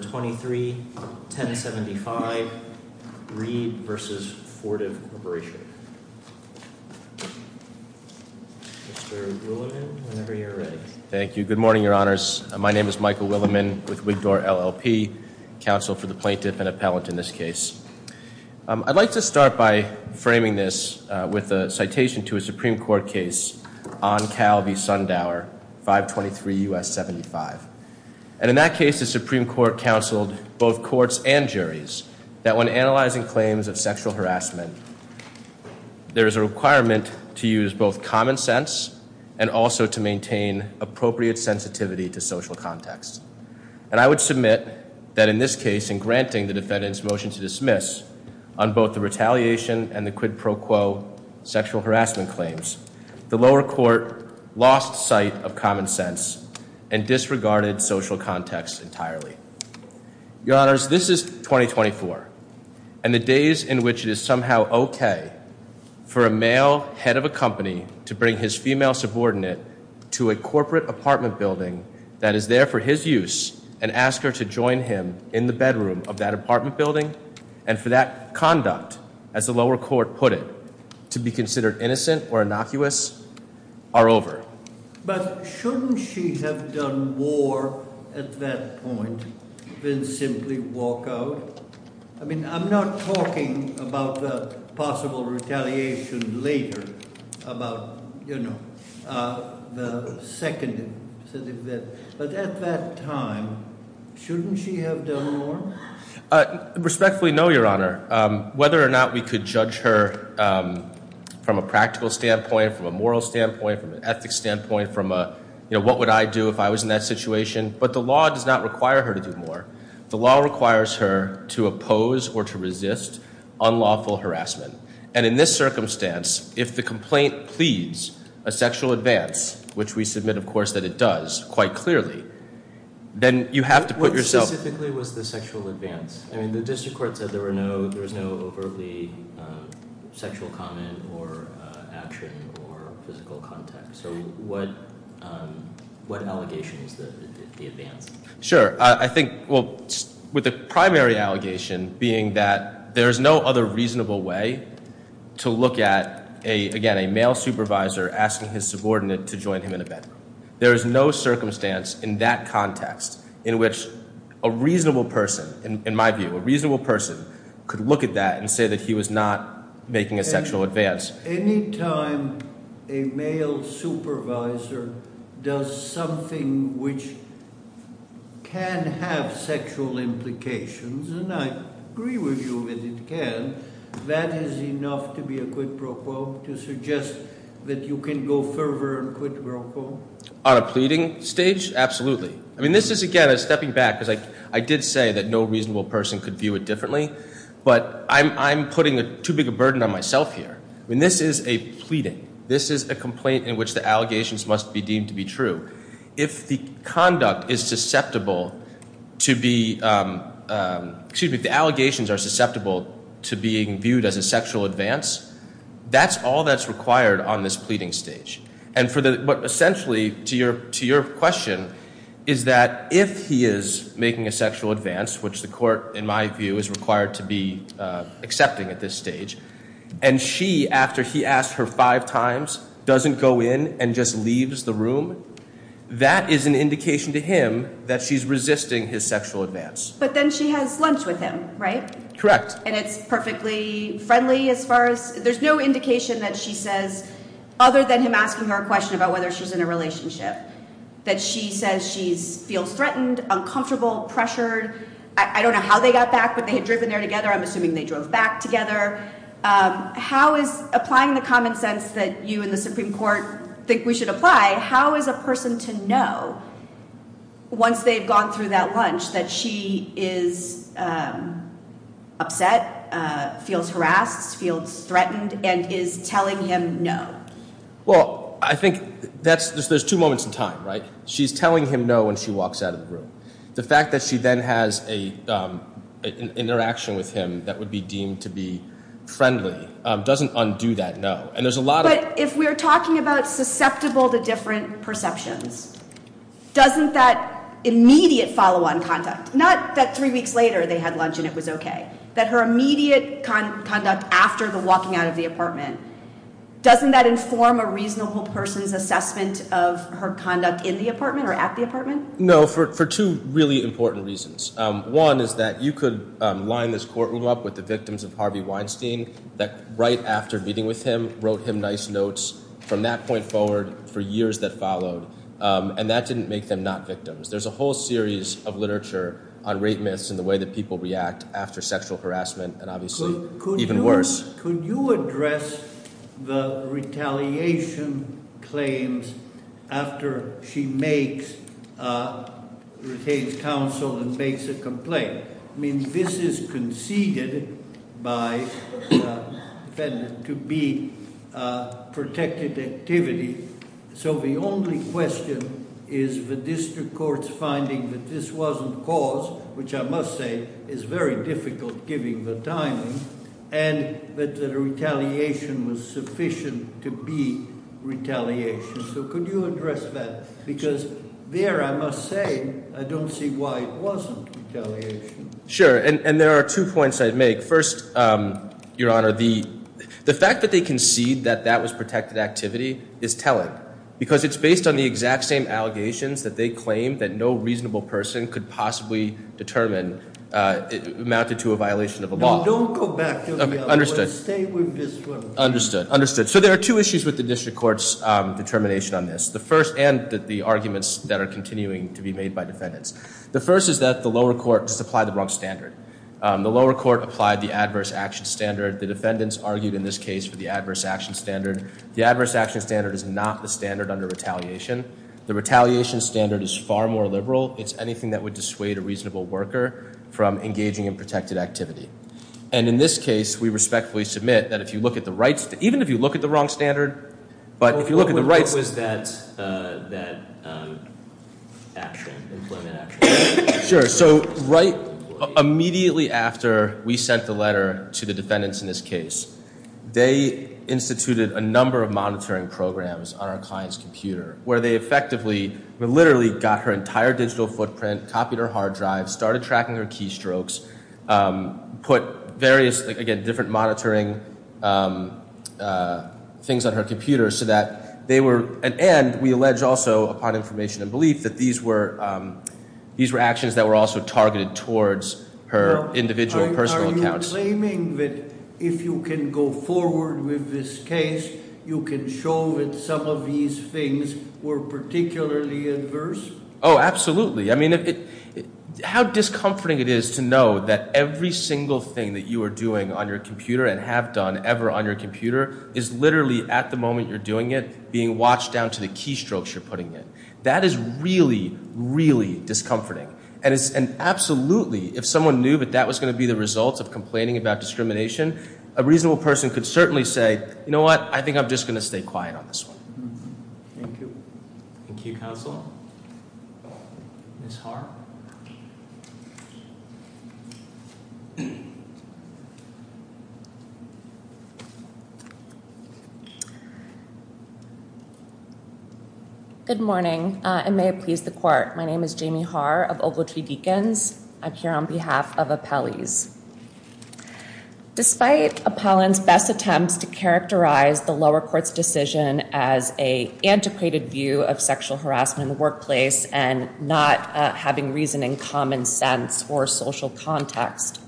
Number 23, 1075 Reed v. Fortive Corporation Mr. Williman, whenever you're ready. Thank you. Good morning, your honors. My name is Michael Williman with Wigdore LLP, counsel for the plaintiff and appellant in this case. I'd like to start by framing this with a citation to a Supreme Court case on Cal v. Sundower, 523 U.S. 75. And in that case, the Supreme Court counseled both courts and juries that when analyzing claims of sexual harassment, there is a requirement to use both common sense and also to maintain appropriate sensitivity to social context. And I would submit that in this case, in granting the defendant's motion to dismiss on both the retaliation and the quid pro quo sexual harassment claims, the lower court lost sight of common sense and disregarded social context entirely. Your honors, this is 2024, and the days in which it is somehow okay for a male head of a company to bring his female subordinate to a corporate apartment building that is there for his use and ask her to join him in the bedroom of that apartment building and for that conduct, as the lower court put it, to be considered innocent or innocuous are over. But shouldn't she have done more at that point than simply walk out? I mean, I'm not talking about the possible retaliation later, about, you know, the second incident, but at that time, shouldn't she have done more? Respectfully, no, your honor. Whether or not we could judge her from a practical standpoint, from a moral standpoint, from a practical standpoint, from a, you know, what would I do if I was in that situation, but the law does not require her to do more. The law requires her to oppose or to resist unlawful harassment. And in this circumstance, if the complaint pleads a sexual advance, which we submit, of course, that it does, quite clearly, then you have to put yourself- What specifically was the sexual advance? I mean, the district court said there was no overtly sexual comment or action or physical contact, so what allegation is the advance? Sure. I think, well, with the primary allegation being that there is no other reasonable way to look at, again, a male supervisor asking his subordinate to join him in a bedroom. There is no circumstance in that context in which a reasonable person, in my view, a reasonable person could look at that and say that he was not making a sexual advance. Any time a male supervisor does something which can have sexual implications, and I agree with you that it can, that is enough to be a quid pro quo, to suggest that you can go further and quid pro quo? On a pleading stage, absolutely. I mean, this is, again, a stepping back, because I did say that no reasonable person could view it differently. But I'm putting too big a burden on myself here. I mean, this is a pleading. This is a complaint in which the allegations must be deemed to be true. If the conduct is susceptible to be, excuse me, the allegations are susceptible to being viewed as a sexual advance, that's all that's required on this pleading stage. And for the, essentially, to your question, is that if he is making a sexual advance, which the court, in my view, is required to be accepting at this stage, and she, after he asked her five times, doesn't go in and just leaves the room? That is an indication to him that she's resisting his sexual advance. But then she has lunch with him, right? Correct. And it's perfectly friendly as far as, there's no indication that she says, other than him asking her a question about whether she's in a relationship, that she says she feels threatened, uncomfortable, pressured, I don't know how they got back, but they had driven there together. I'm assuming they drove back together. How is, applying the common sense that you and the Supreme Court think we should apply, how is a person to know, once they've gone through that lunch, that she is upset, feels harassed, feels threatened, and is telling him no? Well, I think there's two moments in time, right? She's telling him no when she walks out of the room. The fact that she then has an interaction with him that would be deemed to be friendly doesn't undo that no. And there's a lot of- If we're talking about susceptible to different perceptions, doesn't that immediate follow on conduct? Not that three weeks later they had lunch and it was okay. Doesn't that inform a reasonable person's assessment of her conduct in the apartment or at the apartment? No, for two really important reasons. One is that you could line this courtroom up with the victims of Harvey Weinstein, that right after meeting with him, wrote him nice notes from that point forward for years that followed. And that didn't make them not victims. There's a whole series of literature on rape myths and the way that people react after sexual harassment and obviously even worse. Could you address the retaliation claims after she makes, retains counsel and makes a complaint? I mean, this is conceded by the defendant to be protected activity. So the only question is the district court's finding that this wasn't caused, which I must say is very difficult given the timing. And that the retaliation was sufficient to be retaliation. So could you address that? Because there I must say, I don't see why it wasn't retaliation. Sure, and there are two points I'd make. First, your honor, the fact that they concede that that was protected activity is telling. Because it's based on the exact same allegations that they claim that no reasonable person could possibly determine amounted to a violation of a law. Don't go back to the other one, stay with this one. Understood, understood. So there are two issues with the district court's determination on this. The first, and the arguments that are continuing to be made by defendants. The first is that the lower court just applied the wrong standard. The lower court applied the adverse action standard. The defendants argued in this case for the adverse action standard. The adverse action standard is not the standard under retaliation. The retaliation standard is far more liberal. It's anything that would dissuade a reasonable worker from engaging in protected activity. And in this case, we respectfully submit that if you look at the rights, even if you look at the wrong standard, but if you look at the rights- What was that action, employment action? Sure, so right immediately after we sent the letter to the defendants in this case, they instituted a number of monitoring programs on our client's computer. Where they effectively, literally got her entire digital footprint, copied her hard drive, started tracking her keystrokes. Put various, again, different monitoring things on her computer so that they were, and we allege also upon information and belief that these were actions that were also targeted towards her individual personal accounts. Are you claiming that if you can go forward with this case, you can show that some of these things were particularly adverse? Absolutely, I mean, how discomforting it is to know that every single thing that you are doing on your computer, and have done ever on your computer, is literally at the moment you're doing it, being watched down to the keystrokes you're putting in. That is really, really discomforting. And absolutely, if someone knew that that was going to be the result of complaining about discrimination, a reasonable person could certainly say, you know what, I think I'm just going to stay quiet on this one. Thank you. Thank you, Counsel. Ms. Haar? Good morning, and may it please the court. My name is Jamie Haar of Ogletree Deacons. I'm here on behalf of appellees. Despite appellant's best attempts to characterize the lower court's decision as a antiquated view of sexual harassment in the workplace and not having reason and common sense or social context,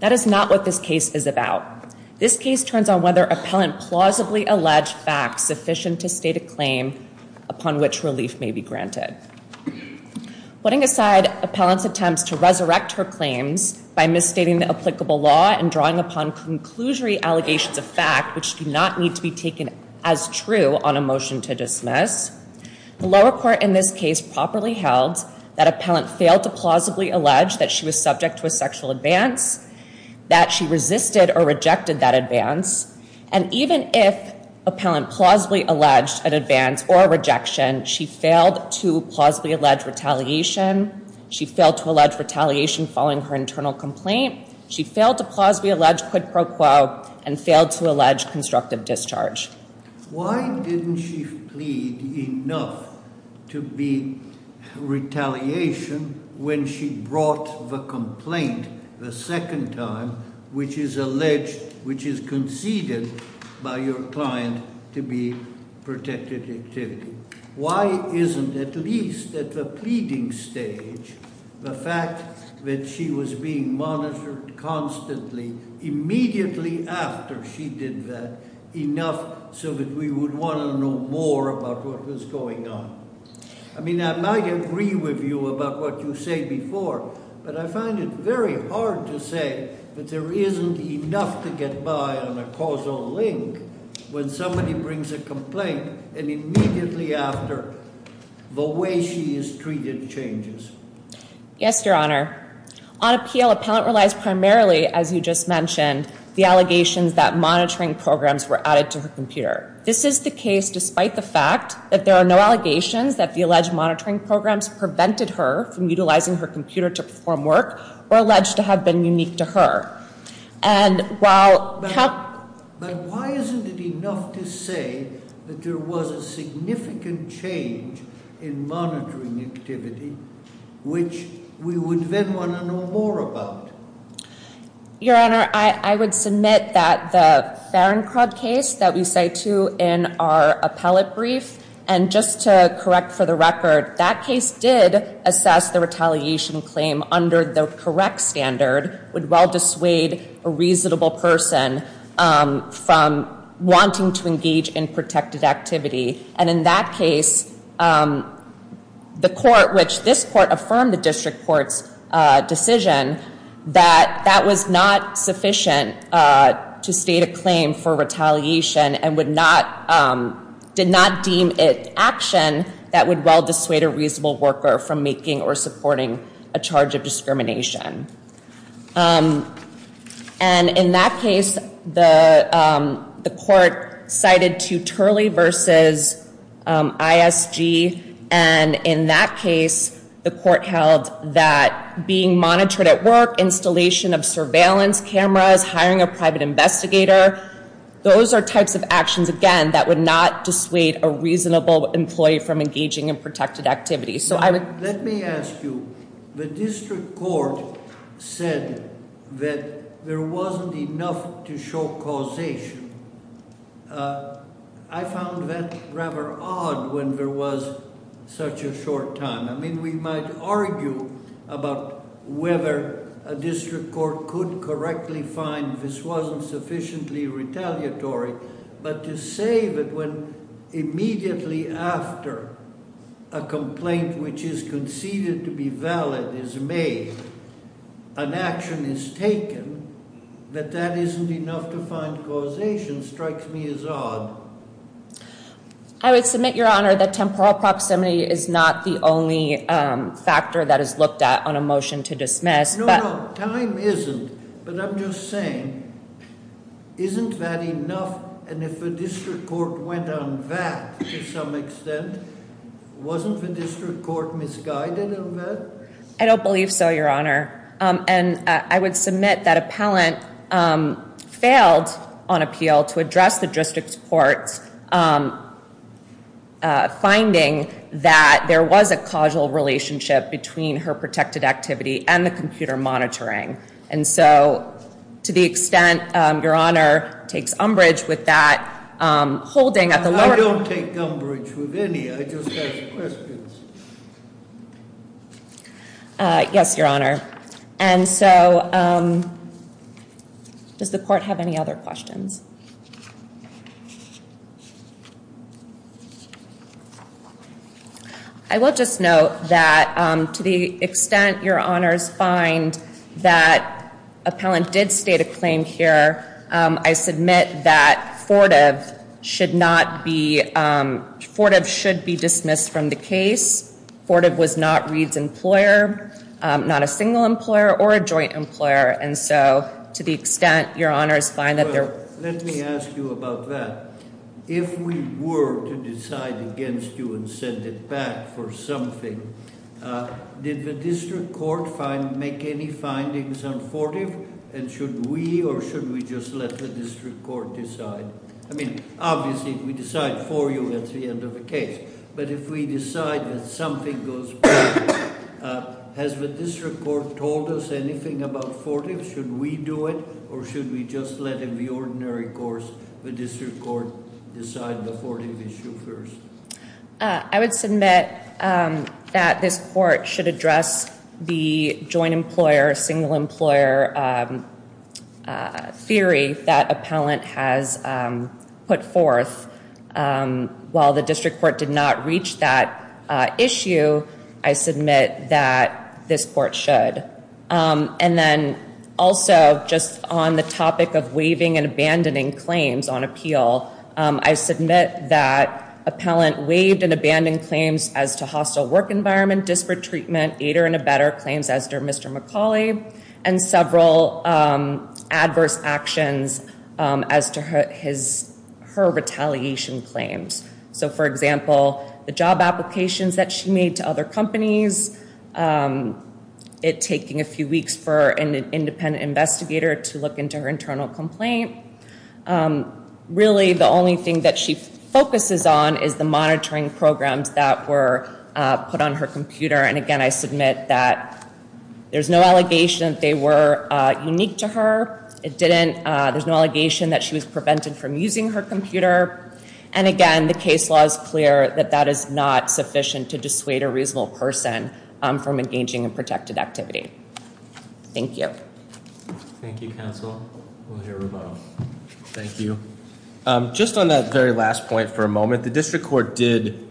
that is not what this case is about. This case turns on whether appellant plausibly alleged facts sufficient to state a claim upon which relief may be granted. Putting aside appellant's attempts to resurrect her claims by misstating the applicable law and drawing upon conclusory allegations of fact which do not need to be taken as true on a motion to dismiss. The lower court in this case properly held that appellant failed to plausibly allege that she was subject to a sexual advance, that she resisted or rejected that advance. And even if appellant plausibly alleged an advance or rejection, she failed to plausibly allege retaliation. She failed to allege retaliation following her internal complaint. She failed to plausibly allege quid pro quo and failed to allege constructive discharge. Why didn't she plead enough to be retaliation when she brought the complaint the second time, which is alleged, which is conceded by your client to be protected activity? Why isn't at least at the pleading stage the fact that she was being monitored constantly, immediately after she did that, enough so that we would want to know more about what was going on? I mean, I might agree with you about what you say before, but I find it very hard to say that there isn't enough to get by on a causal link when somebody brings a complaint and immediately after, the way she is treated changes. Yes, Your Honor. On appeal, appellant relies primarily, as you just mentioned, the allegations that monitoring programs were added to her computer. This is the case despite the fact that there are no allegations that the alleged monitoring programs prevented her from utilizing her computer to perform work, or alleged to have been unique to her. And while- But why isn't it enough to say that there was a significant change in monitoring activity, which we would then want to know more about? Your Honor, I would submit that the Barencroft case that we say to in our appellate brief, and just to correct for the record, that case did assess the retaliation claim under the correct standard, would well dissuade a reasonable person from wanting to engage in protected activity. And in that case, the court, which this court affirmed the district court's decision, that that was not sufficient to state a claim for retaliation and did not deem it action that would well dissuade a reasonable worker from making or supporting a charge of discrimination. And in that case, the court cited to Turley versus ISG. And in that case, the court held that being monitored at work, installation of surveillance cameras, hiring a private investigator. Those are types of actions, again, that would not dissuade a reasonable employee from engaging in protected activities. So I would- Let me ask you. The district court said that there wasn't enough to show causation. I found that rather odd when there was such a short time. I mean, we might argue about whether a district court could correctly find this wasn't sufficiently retaliatory. But to say that when immediately after a complaint, which is conceded to be valid, is made, an action is taken, that that isn't enough to find causation strikes me as odd. I would submit, Your Honor, that temporal proximity is not the only factor that is looked at on a motion to dismiss. No, no, time isn't. But I'm just saying, isn't that enough? And if the district court went on that to some extent, wasn't the district court misguided on that? I don't believe so, Your Honor. And I would submit that appellant failed on appeal to address the district's courts, finding that there was a causal relationship between her protected activity and the computer monitoring. And so, to the extent, Your Honor, takes umbrage with that holding at the- I don't take umbrage with any, I just ask questions. Yes, Your Honor. And so, does the court have any other questions? I will just note that, to the extent Your Honor's find that appellant did state a claim here, I submit that Fortiv should be dismissed from the case. Fortiv was not Reed's employer, not a single employer or a joint employer. And so, to the extent Your Honor's find that there- Well, let me ask you about that. If we were to decide against you and send it back for something, did the district court make any findings on Fortiv? And should we or should we just let the district court decide? I mean, obviously, we decide for you at the end of the case. But if we decide that something goes wrong, has the district court told us anything about Fortiv? Should we do it or should we just let the ordinary courts, the district court, decide the Fortiv issue first? I would submit that this court should address the joint employer, single employer theory that appellant has put forth. While the district court did not reach that issue, I submit that this court should. And then also, just on the topic of waiving and abandoning claims on appeal, I submit that appellant waived and abandoned claims as to hostile work environment, disparate treatment, aider and abetter claims as to Mr. McCauley, and several adverse actions as to her retaliation claims. So, for example, the job applications that she made to other companies, it taking a few weeks for an independent investigator to look into her internal complaint. Really, the only thing that she focuses on is the monitoring programs that were put on her computer. And again, I submit that there's no allegation that they were unique to her. It didn't, there's no allegation that she was prevented from using her computer. And again, the case law is clear that that is not sufficient to dissuade a reasonable person from engaging in protected activity. Thank you. Thank you, counsel. We'll hear from both. Thank you. Just on that very last point for a moment, the district court did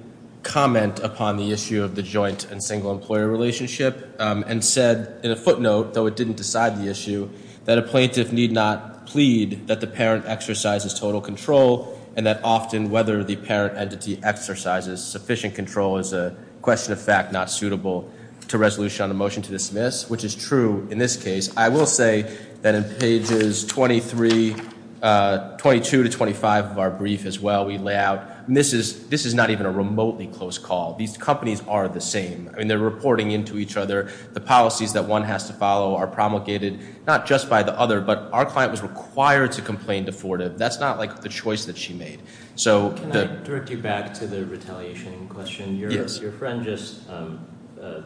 comment upon the issue of the joint and single employer relationship, and said in a footnote, though it didn't decide the issue, that a plaintiff need not plead that the parent exercises total control, and that often whether the parent entity exercises sufficient control is a question of fact, not suitable to resolution on the motion to dismiss, which is true in this case. I will say that in pages 23, 22 to 25 of our brief as well, we lay out. And this is not even a remotely close call. These companies are the same. I mean, they're reporting into each other. The policies that one has to follow are promulgated, not just by the other, but our client was required to complain to Florida. That's not like the choice that she made. So- Can I direct you back to the retaliation question? Yes. Your friend just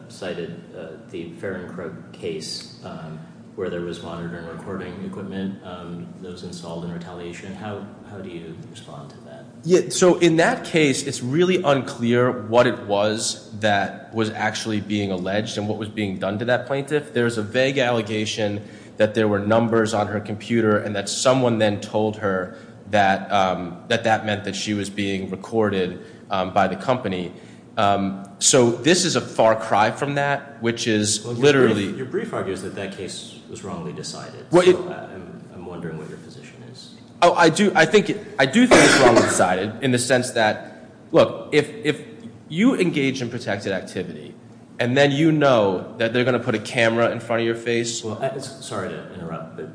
cited the Fair and Crook case where there was monitoring recording equipment that was installed in retaliation. How do you respond to that? Yeah, so in that case, it's really unclear what it was that was actually being alleged and what was being done to that plaintiff. There's a vague allegation that there were numbers on her computer, and that someone then told her that that meant that she was being recorded by the company. So this is a far cry from that, which is literally- Your brief argues that that case was wrongly decided. I'm wondering what your position is. I do think it's wrongly decided in the sense that, look, if you engage in protected activity, and then you know that they're going to put a camera in front of your face. Well, sorry to interrupt, but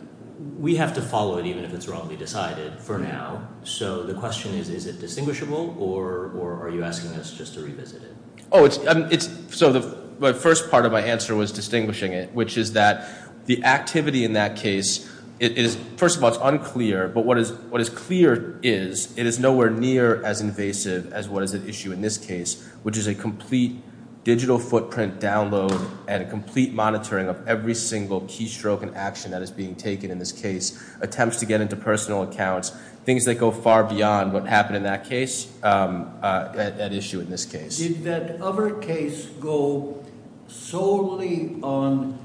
we have to follow it even if it's wrongly decided for now. So the question is, is it distinguishable or are you asking us just to revisit it? So the first part of my answer was distinguishing it, which is that the activity in that case, it is, first of all, it's unclear, but what is clear is, it is nowhere near as invasive as what is at issue in this case, which is a complete digital footprint download and a complete monitoring of every single keystroke and action that is being taken in this case, attempts to get into personal accounts, things that go far beyond what happened in that case, that issue in this case. Did that other case go solely on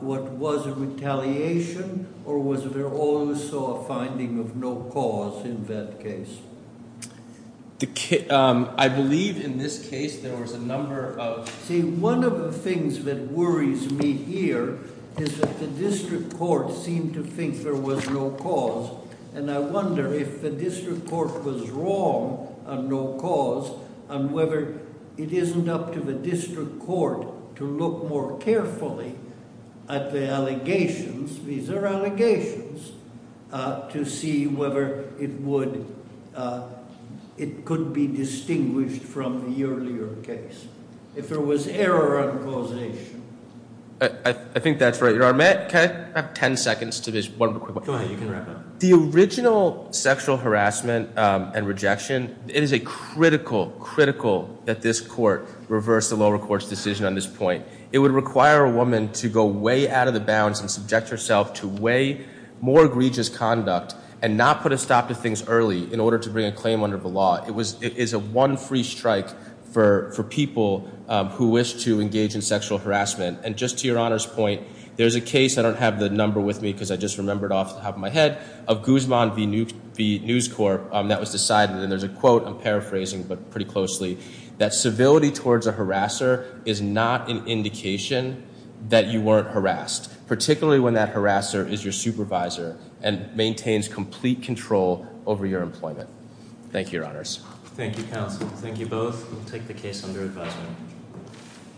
what was a retaliation, or was there also a finding of no cause in that case? I believe in this case there was a number of- See, one of the things that worries me here is that the district court seemed to think there was no cause. And I wonder if the district court was wrong on no cause, and whether it isn't up to the district court to look more carefully at the allegations, these are allegations, to see whether it would, it could be distinguished from the earlier case. If there was error on causation. I think that's right. Your Honor, may I have ten seconds to just one quick one? Go ahead, you can wrap up. The original sexual harassment and rejection, it is a critical, critical that this court reverse the lower court's decision on this point. It would require a woman to go way out of the bounds and subject herself to way more egregious conduct, and not put a stop to things early in order to bring a claim under the law. It is a one free strike for people who wish to engage in sexual harassment. And just to your Honor's point, there's a case, I don't have the number with me because I just remembered off the top of my head, of Guzman v News Corp that was decided, and there's a quote, I'm paraphrasing, but pretty closely. That civility towards a harasser is not an indication that you weren't harassed, particularly when that harasser is your supervisor and maintains complete control over your employment. Thank you, Your Honors. Thank you, counsel. Thank you both. We'll take the case under advisement.